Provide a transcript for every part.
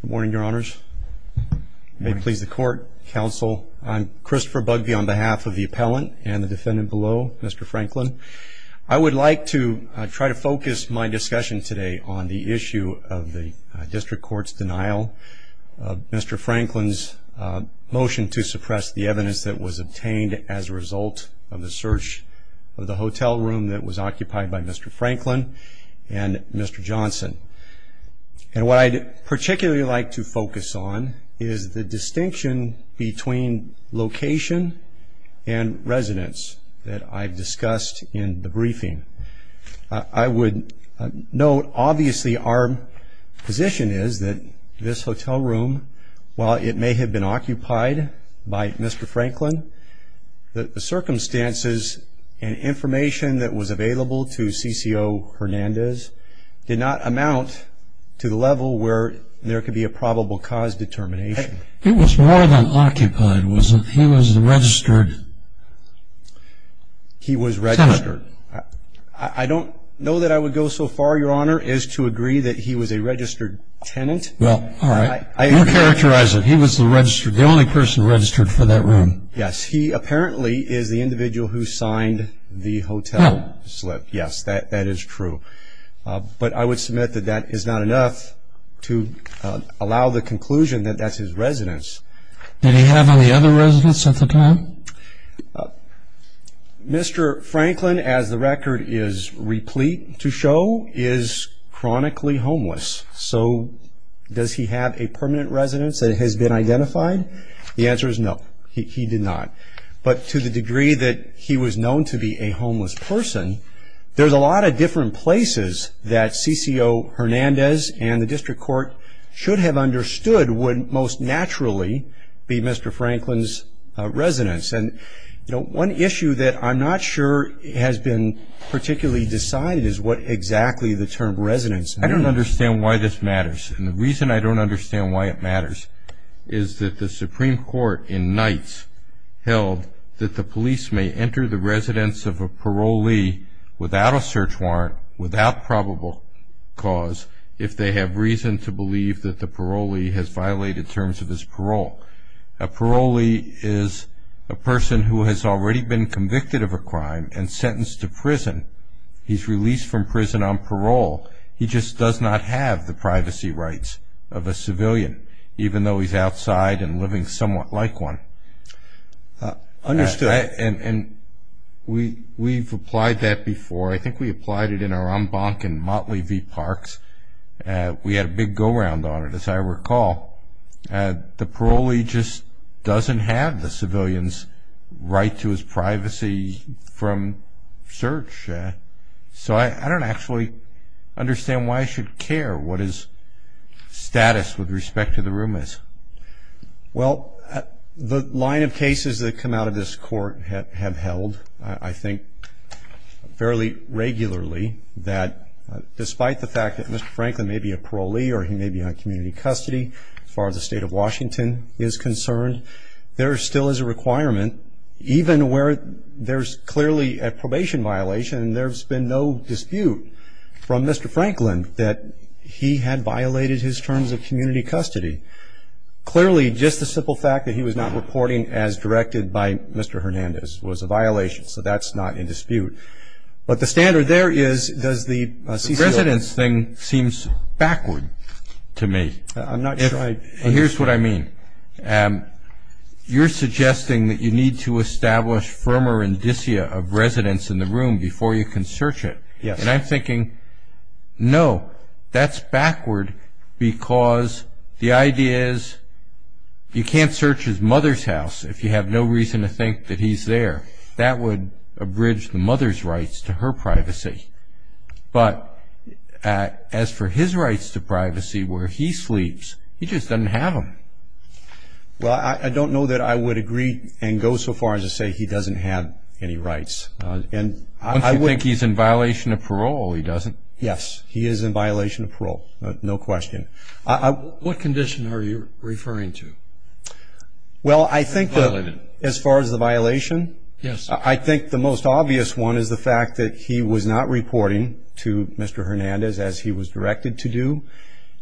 Good morning, your honors. May it please the court, counsel. I'm Christopher Bugbee on behalf of the appellant and the defendant below, Mr. Franklin. I would like to try to focus my discussion today on the issue of the district court's denial of Mr. Franklin's motion to suppress the evidence that was obtained as a result of the search of the hotel room that was occupied by Mr. Franklin and Mr. Johnson. And what I'd particularly like to focus on is the distinction between location and residence that I've discussed in the briefing. I would note, obviously, our position is that this hotel room, while it may have been occupied by Mr. Franklin, the circumstances and information that was available to CCO Hernandez did not amount to the level where there could be a probable cause determination. He was more than occupied, wasn't he? He was the registered tenant. He was registered. I don't know that I would go so far, your honor, as to agree that he was a registered tenant. Well, all right. You characterize it. He was the only person registered for that room. Yes, he apparently is the individual who signed the hotel slip. Yes, that is true. But I would submit that that is not enough to allow the conclusion that that's his residence. Did he have any other residence at the time? Mr. Franklin, as the record is replete to show, is chronically homeless. So does he have a permanent residence that has been identified? The answer is no, he did not. But to the degree that he was known to be a homeless person, there's a lot of different places that CCO Hernandez and the district court should have understood would most naturally be Mr. Hernandez. And one issue that I'm not sure has been particularly decided is what exactly the term residence means. I don't understand why this matters. And the reason I don't understand why it matters is that the Supreme Court in Knights held that the police may enter the residence of a parolee without a search warrant, without probable cause, if they have reason to believe that the parolee has violated terms of his parole. A parolee is a person who has already been convicted of a crime and sentenced to prison. He's released from prison on parole. He just does not have the privacy rights of a civilian, even though he's outside and living somewhat like one. Understood. And we've applied that before. I think we applied it in our en banc in Motley V. Parks. We had a big go-round on it, as I recall. The parolee just doesn't have the civilian's right to his privacy from search. So I don't actually understand why I should care what his status with respect to the room is. Well, the line of cases that come out of this court have held, I think, fairly regularly, that despite the fact that Mr. Franklin may be a parolee or he may be on community custody, as far as the State of Washington is concerned, there still is a requirement, even where there's clearly a probation violation, and there's been no dispute from Mr. Franklin that he had violated his terms of community custody. Clearly, just the simple fact that he was not reporting as directed by Mr. Hernandez was a violation, so that's not in dispute. But the standard there is, does the CCO... The residence thing seems backward to me. I'm not sure I... Here's what I mean. You're suggesting that you need to establish firmer indicia of residence in the room before you can search it. Yes. And I'm thinking, no, that's backward because the idea is you can't search his mother's house if you have no reason to think that he's there. That would abridge the mother's rights to her privacy. But as for his rights to privacy where he sleeps, he just doesn't have them. Well, I don't know that I would agree and go so far as to say he doesn't have any rights. Once you think he's in violation of parole, he doesn't. Yes, he is in violation of parole, no question. What condition are you referring to? Well, I think as far as the violation, I think the most obvious one is the fact that he was not reporting to Mr. Hernandez as he was directed to do.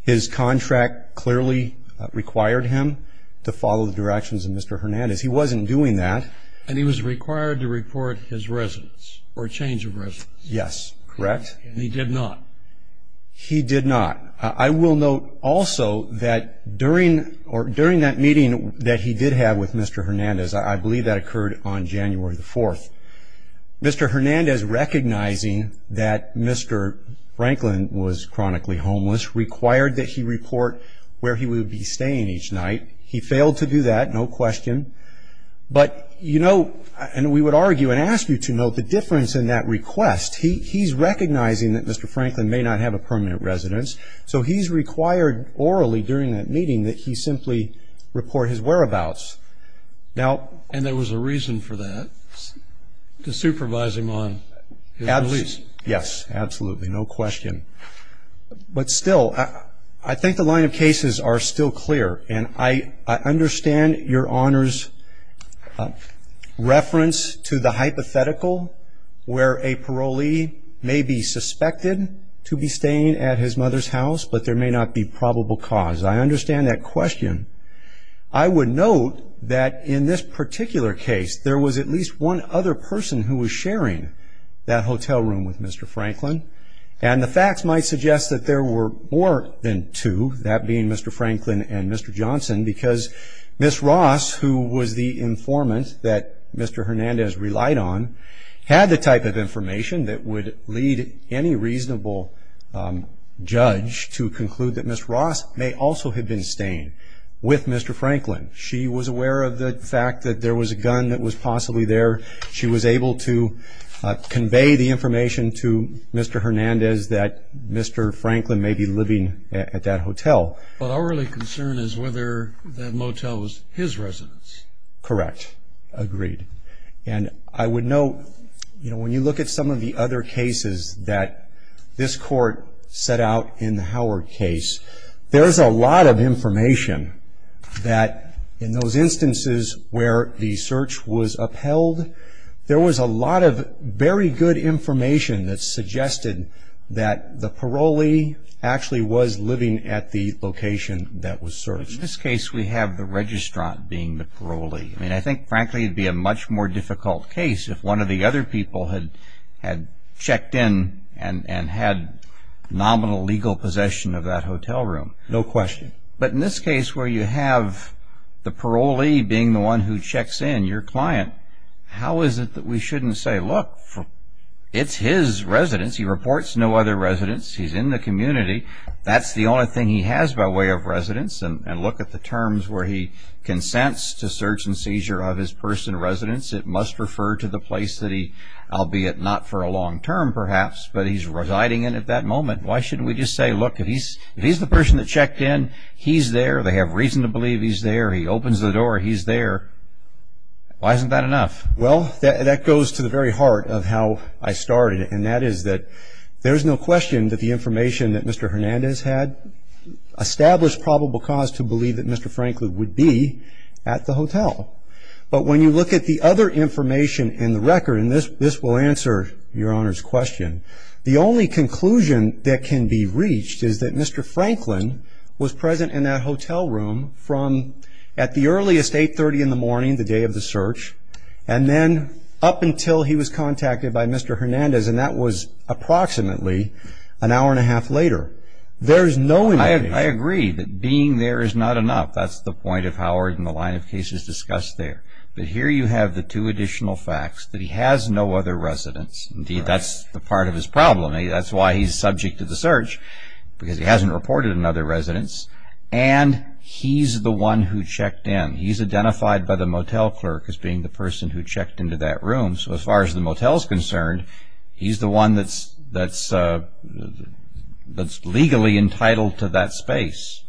His contract clearly required him to follow the directions of Mr. Hernandez. He wasn't doing that. And he was required to report his residence or change of residence. Yes, correct. And he did not. He did not. I will note also that during that meeting that he did have with Mr. Hernandez, I believe that occurred on January the 4th, Mr. Hernandez recognizing that Mr. Franklin was chronically homeless required that he report where he would be staying each night. He failed to do that, no question. But, you know, and we would argue and ask you to note the difference in that request. He's recognizing that Mr. Franklin may not have a permanent residence, so he's required orally during that meeting that he simply report his whereabouts. And there was a reason for that, to supervise him on his release. Yes, absolutely, no question. But still, I think the line of cases are still clear, and I understand your Honor's reference to the hypothetical where a parolee may be suspected to be staying at his mother's house, but there may not be probable cause. I understand that question. I would note that in this particular case, there was at least one other person who was sharing that hotel room with Mr. Franklin, and the facts might suggest that there were more than two, that being Mr. Franklin and Mr. Johnson, because Ms. Ross, who was the informant that Mr. Hernandez relied on, had the type of information that would lead any reasonable judge to conclude that Ms. Ross may also have been staying with Mr. Franklin. She was aware of the fact that there was a gun that was possibly there. She was able to convey the information to Mr. Hernandez that Mr. Franklin may be living at that hotel. But our only concern is whether that motel was his residence. Correct. Agreed. And I would note, you know, when you look at some of the other cases that this Court set out in the Howard case, there's a lot of information that in those instances where the search was upheld, there was a lot of very good information that suggested that the parolee actually was living at the location that was searched. In this case, we have the registrant being the parolee. I mean, I think, frankly, it would be a much more difficult case if one of the other people had checked in and had nominal legal possession of that hotel room. No question. But in this case where you have the parolee being the one who checks in, your client, how is it that we shouldn't say, look, it's his residence. He reports no other residence. He's in the community. That's the only thing he has by way of residence. And look at the terms where he consents to search and seizure of his personal residence. It must refer to the place that he, albeit not for a long term perhaps, but he's residing in at that moment. Why shouldn't we just say, look, if he's the person that checked in, he's there. They have reason to believe he's there. He opens the door, he's there. Why isn't that enough? Well, that goes to the very heart of how I started, and that is that there's no question that the information that Mr. Hernandez had established probable cause to believe that Mr. Franklin would be at the hotel. But when you look at the other information in the record, and this will answer Your Honor's question, the only conclusion that can be reached is that Mr. Franklin was present in that hotel room from at the earliest 830 in the morning, the day of the search, and then up until he was contacted by Mr. Hernandez, and that was approximately an hour and a half later. There's no indication. I agree that being there is not enough. That's the point of Howard and the line of cases discussed there. But here you have the two additional facts, that he has no other residence. Indeed, that's the part of his problem. That's why he's subject to the search, because he hasn't reported another residence. And he's the one who checked in. He's identified by the motel clerk as being the person who checked into that room. So as far as the motel is concerned, he's the one that's legally entitled to that space.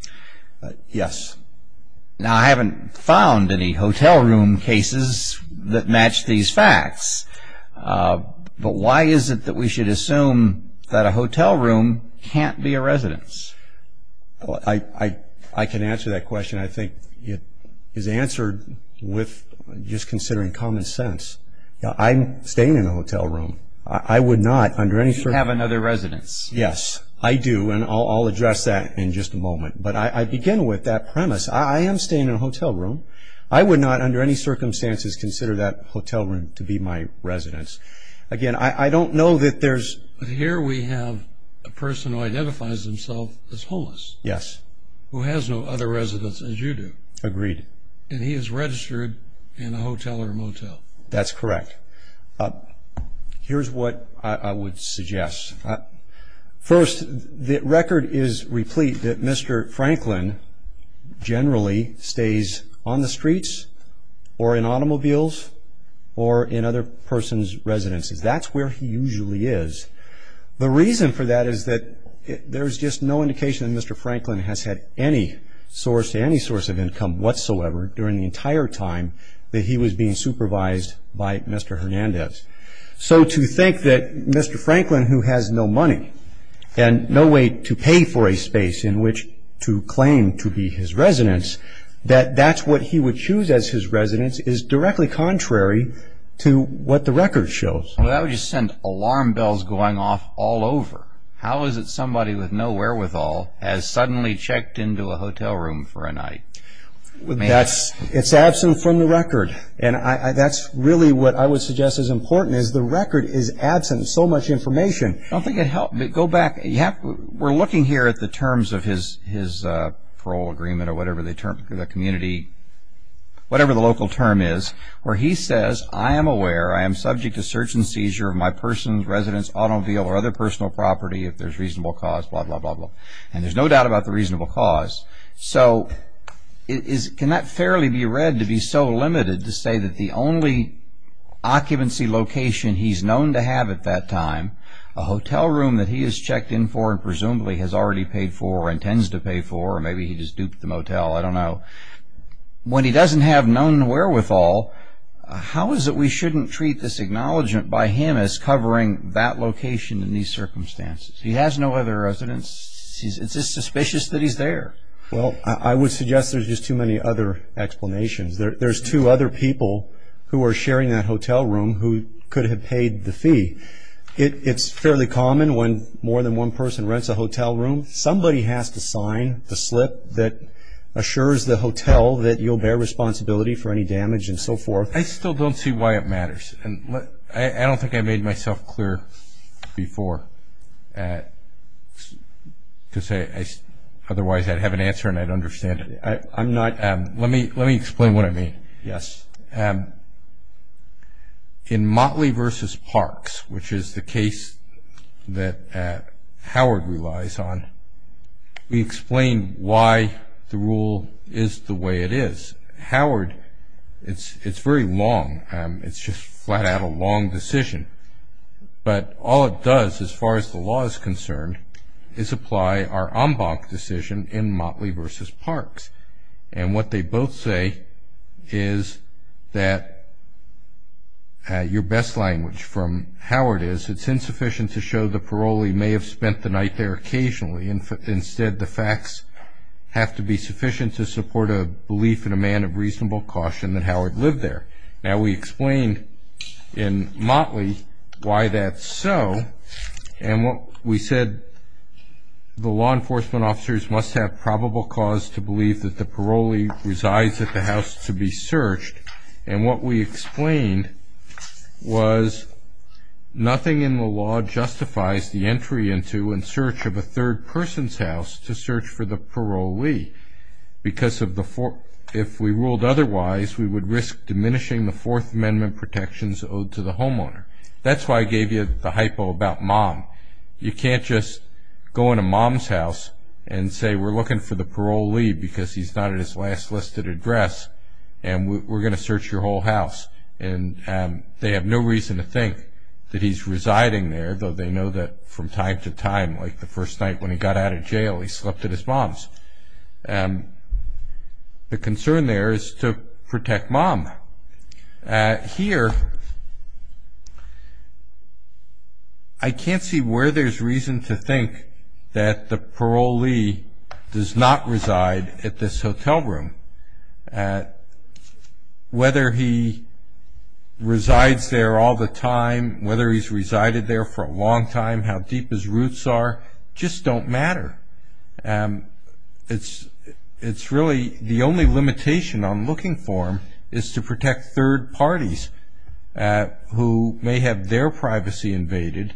Yes. Now, I haven't found any hotel room cases that match these facts, but why is it that we should assume that a hotel room can't be a residence? I can answer that question. I think it is answered with just considering common sense. I'm staying in a hotel room. I would not under any circumstances. You have another residence. Yes, I do, and I'll address that in just a moment. But I begin with that premise. I am staying in a hotel room. I would not under any circumstances consider that hotel room to be my residence. Again, I don't know that there's... Here we have a person who identifies himself as homeless. Yes. Who has no other residence, as you do. Agreed. And he is registered in a hotel or motel. That's correct. Here's what I would suggest. First, the record is replete that Mr. Franklin generally stays on the streets or in automobiles or in other persons' residences. That's where he usually is. The reason for that is that there's just no indication that Mr. Franklin has had any source, during the entire time that he was being supervised by Mr. Hernandez. So to think that Mr. Franklin, who has no money and no way to pay for a space in which to claim to be his residence, that that's what he would choose as his residence is directly contrary to what the record shows. Well, that would just send alarm bells going off all over. How is it somebody with no wherewithal has suddenly checked into a hotel room for a night? It's absent from the record. And that's really what I would suggest is important is the record is absent of so much information. I don't think it helps, but go back. We're looking here at the terms of his parole agreement or whatever the local term is, where he says, I am aware, I am subject to search and seizure of my person's residence, automobile or other personal property if there's reasonable cause, blah, blah, blah, blah. And there's no doubt about the reasonable cause. So can that fairly be read to be so limited to say that the only occupancy location he's known to have at that time, a hotel room that he has checked in for and presumably has already paid for or intends to pay for or maybe he just duped the motel, I don't know. When he doesn't have known wherewithal, how is it we shouldn't treat this acknowledgment by him as covering that location in these circumstances? He has no other residence. It's just suspicious that he's there. Well, I would suggest there's just too many other explanations. There's two other people who are sharing that hotel room who could have paid the fee. It's fairly common when more than one person rents a hotel room, somebody has to sign the slip that assures the hotel that you'll bear responsibility for any damage and so forth. I still don't see why it matters. I don't think I made myself clear before because otherwise I'd have an answer and I'd understand it. Let me explain what I mean. Yes. In Motley v. Parks, which is the case that Howard relies on, we explain why the rule is the way it is. Howard, it's very long. It's just flat out a long decision. But all it does, as far as the law is concerned, is apply our en banc decision in Motley v. Parks. And what they both say is that, your best language from Howard is, it's insufficient to show the parolee may have spent the night there occasionally. Instead, the facts have to be sufficient to support a belief in a man of reasonable caution that Howard lived there. Now, we explained in Motley why that's so. And we said the law enforcement officers must have probable cause to believe that the parolee resides at the house to be searched. And what we explained was nothing in the law justifies the entry into and search of a third person's house to search for the parolee. Because if we ruled otherwise, we would risk diminishing the Fourth Amendment protections owed to the homeowner. That's why I gave you the hypo about mom. You can't just go into mom's house and say, we're looking for the parolee because he's not at his last listed address and we're going to search your whole house. And they have no reason to think that he's residing there, though they know that from time to time, like the first night when he got out of jail, he slept at his mom's. The concern there is to protect mom. Here, I can't see where there's reason to think that the parolee does not reside at this hotel room. Whether he resides there all the time, whether he's resided there for a long time, how deep his roots are, just don't matter. It's really the only limitation I'm looking for is to protect third parties who may have their privacy invaded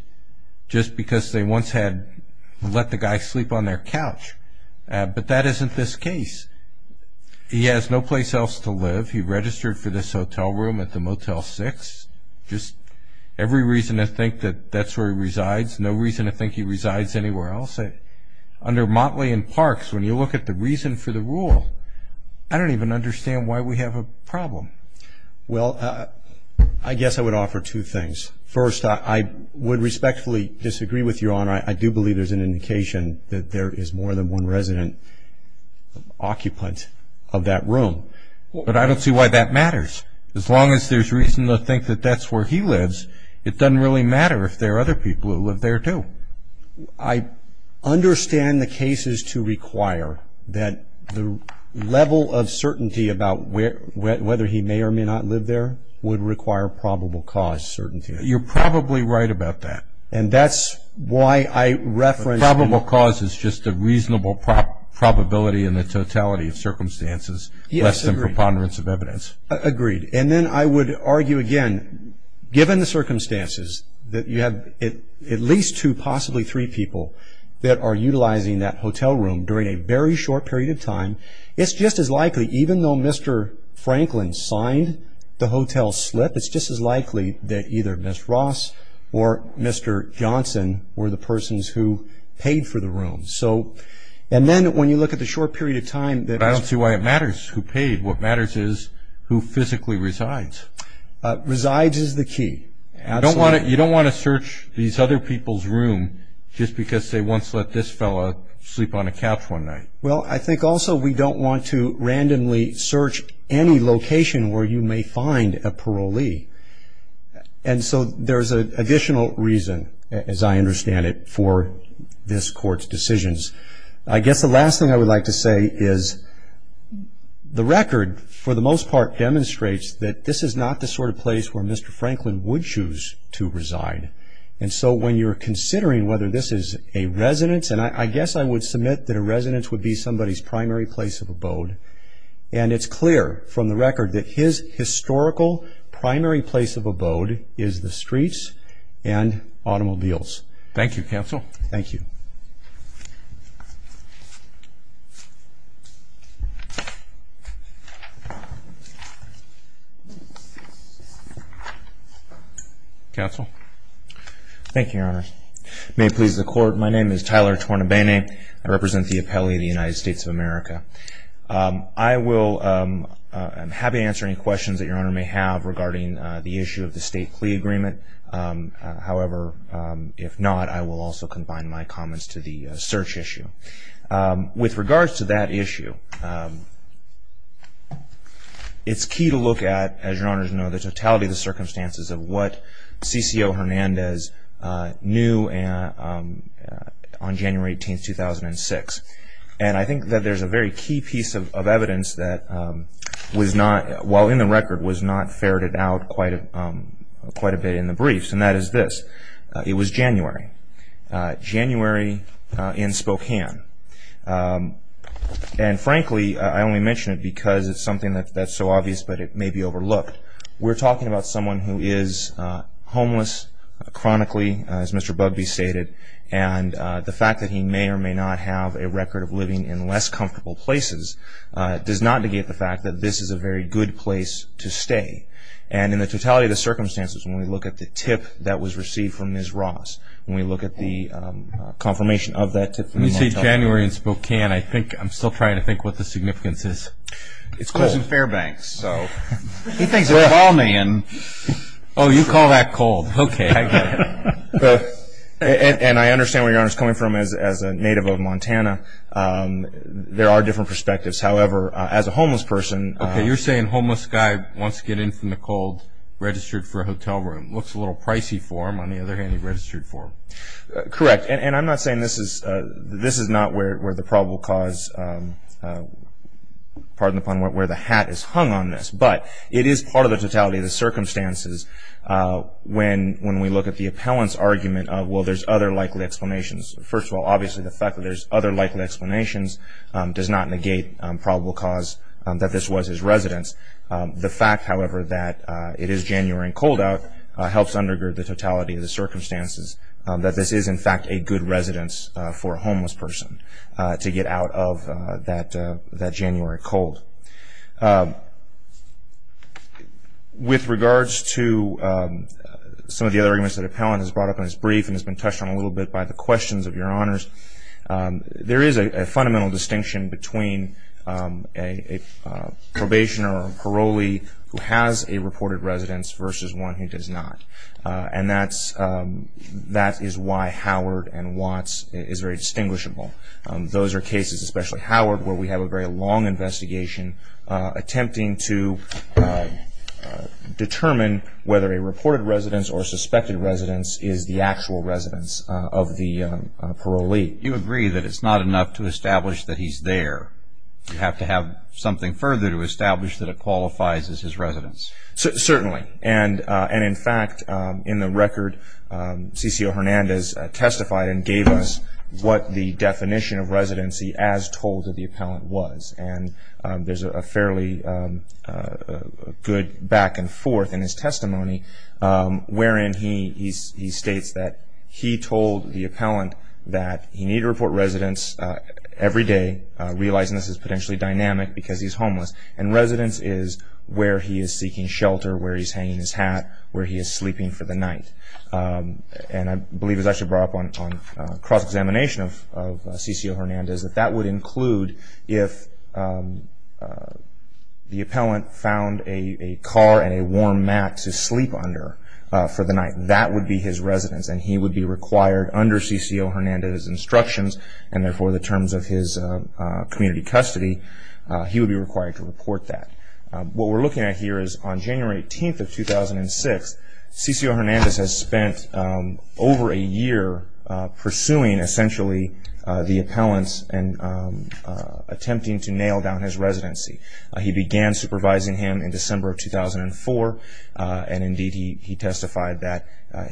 just because they once had let the guy sleep on their couch. But that isn't this case. He has no place else to live. He registered for this hotel room at the Motel 6. Every reason to think that that's where he resides, no reason to think he resides anywhere else. Under Motley and Parks, when you look at the reason for the rule, I don't even understand why we have a problem. Well, I guess I would offer two things. First, I would respectfully disagree with Your Honor. I do believe there's an indication that there is more than one resident occupant of that room. But I don't see why that matters. As long as there's reason to think that that's where he lives, it doesn't really matter if there are other people who live there, too. I understand the cases to require that the level of certainty about whether he may or may not live there would require probable cause certainty. You're probably right about that. And that's why I reference... Probable cause is just a reasonable probability in the totality of circumstances, less than preponderance of evidence. Agreed. And then I would argue again, given the circumstances, that you have at least two, possibly three people that are utilizing that hotel room during a very short period of time, it's just as likely, even though Mr. Franklin signed the hotel slip, it's just as likely that either Ms. Ross or Mr. Johnson were the persons who paid for the room. And then when you look at the short period of time... I don't see why it matters who paid. What matters is who physically resides. Resides is the key. You don't want to search these other people's room just because they once let this fellow sleep on a couch one night. Well, I think also we don't want to randomly search any location where you may find a parolee. And so there's an additional reason, as I understand it, for this Court's decisions. I guess the last thing I would like to say is the record, for the most part, demonstrates that this is not the sort of place where Mr. Franklin would choose to reside. And so when you're considering whether this is a residence, and I guess I would submit that a residence would be somebody's primary place of abode, and it's clear from the record that his historical primary place of abode is the streets and automobiles. Thank you, counsel. Thank you. Counsel? Thank you, Your Honor. May it please the Court, my name is Tyler Tornabene. I represent the appellee of the United States of America. I am happy to answer any questions that Your Honor may have regarding the issue of the state plea agreement. However, if not, I will also combine my comments to the search issue. With regards to that issue, it's key to look at, as Your Honors know, the totality of the circumstances of what CCO Hernandez knew on January 18, 2006. And I think that there's a very key piece of evidence that was not, well, in the record, was not ferreted out quite a bit in the briefs, and that is this. It was January. January in Spokane. And frankly, I only mention it because it's something that's so obvious but it may be overlooked. We're talking about someone who is homeless, chronically, as Mr. Bugbee stated, and the fact that he may or may not have a record of living in less comfortable places does not negate the fact that this is a very good place to stay. And in the totality of the circumstances, when we look at the tip that was received from Ms. Ross, when we look at the confirmation of that tip from the motel. When you say January in Spokane, I think I'm still trying to think what the significance is. It's close to Fairbanks, so he thinks it's Balmain. Oh, you call that cold. Okay, I get it. And I understand where Your Honor is coming from as a native of Montana. There are different perspectives. However, as a homeless person. Okay, you're saying homeless guy wants to get in from the cold, registered for a hotel room. Looks a little pricey for him. On the other hand, he registered for him. Correct. And I'm not saying this is not where the probable cause, pardon the pun, where the hat is hung on this. But it is part of the totality of the circumstances when we look at the appellant's argument of, well, there's other likely explanations. First of all, obviously the fact that there's other likely explanations does not negate probable cause that this was his residence. The fact, however, that it is January and cold out helps undergird the totality of the circumstances, that this is in fact a good residence for a homeless person to get out of that January cold. With regards to some of the other arguments that appellant has brought up in his brief and has been touched on a little bit by the questions of your honors, there is a fundamental distinction between a probationer or parolee who has a reported residence versus one who does not. And that is why Howard and Watts is very distinguishable. Those are cases, especially Howard, where we have a very long investigation attempting to determine whether a reported residence or suspected residence is the actual residence of the parolee. You agree that it's not enough to establish that he's there. You have to have something further to establish that it qualifies as his residence. Certainly. And in fact, in the record, C.C.O. Hernandez testified and gave us what the definition of residency as told to the appellant was. And there's a fairly good back and forth in his testimony, wherein he states that he told the appellant that he needed to report residence every day, realizing this is potentially dynamic because he's homeless. And residence is where he is seeking shelter, where he's hanging his hat, where he is sleeping for the night. And I believe it was actually brought up on cross-examination of C.C.O. Hernandez that that would include if the appellant found a car and a warm mat to sleep under for the night. That would be his residence, and he would be required under C.C.O. Hernandez's instructions and therefore the terms of his community custody, he would be required to report that. What we're looking at here is on January 18th of 2006, C.C.O. Hernandez has spent over a year pursuing essentially the appellants and attempting to nail down his residency. He began supervising him in December of 2004, and indeed he testified that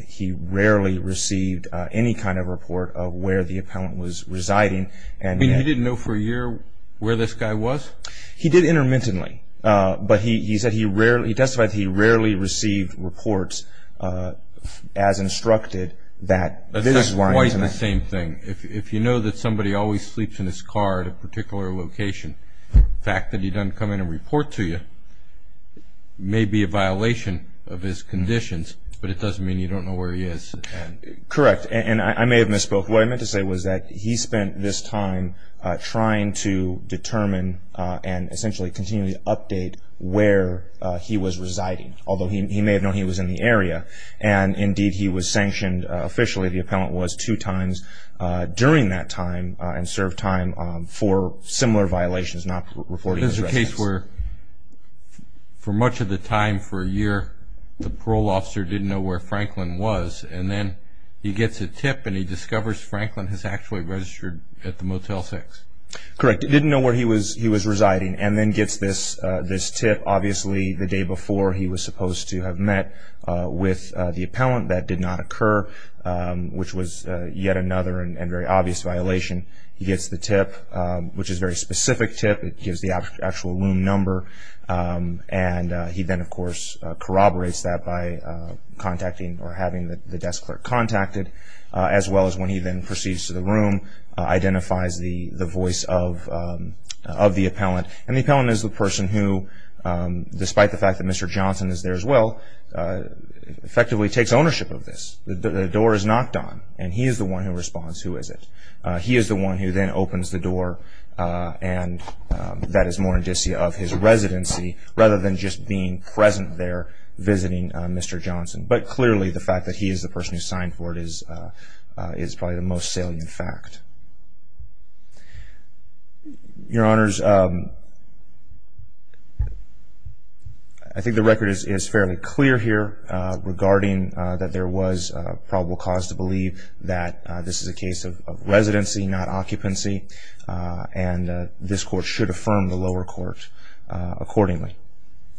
he rarely received any kind of report of where the appellant was residing. You didn't know for a year where this guy was? He did intermittently, but he testified that he rarely received reports as instructed. That's quite the same thing. If you know that somebody always sleeps in his car at a particular location, the fact that he doesn't come in and report to you may be a violation of his conditions, but it doesn't mean you don't know where he is. Correct, and I may have misspoke. What I meant to say was that he spent this time trying to determine and essentially continually update where he was residing, although he may have known he was in the area, and indeed he was sanctioned officially. The appellant was two times during that time and served time for similar violations not reporting his residence. This is a case where for much of the time for a year, the parole officer didn't know where Franklin was, and then he gets a tip and he discovers Franklin has actually registered at the Motel 6. Correct. He didn't know where he was residing, and then gets this tip obviously the day before he was supposed to have met with the appellant. That did not occur, which was yet another and very obvious violation. He gets the tip, which is a very specific tip. It gives the actual room number, and he then, of course, corroborates that by contacting or having the desk clerk contact it, as well as when he then proceeds to the room, identifies the voice of the appellant. The appellant is the person who, despite the fact that Mr. Johnson is there as well, effectively takes ownership of this. The door is knocked on, and he is the one who responds, who is it? He is the one who then opens the door, and that is more indicia of his residency, rather than just being present there visiting Mr. Johnson. But clearly the fact that he is the person who signed for it is probably the most salient fact. I think the record is fairly clear here regarding that there was probable cause to believe that this is a case of residency, not occupancy, and this Court should affirm the lower court accordingly.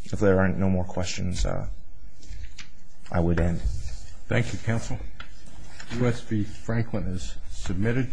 If there are no more questions, I would end. Thank you, Counsel. U.S. v. Franklin is submitted.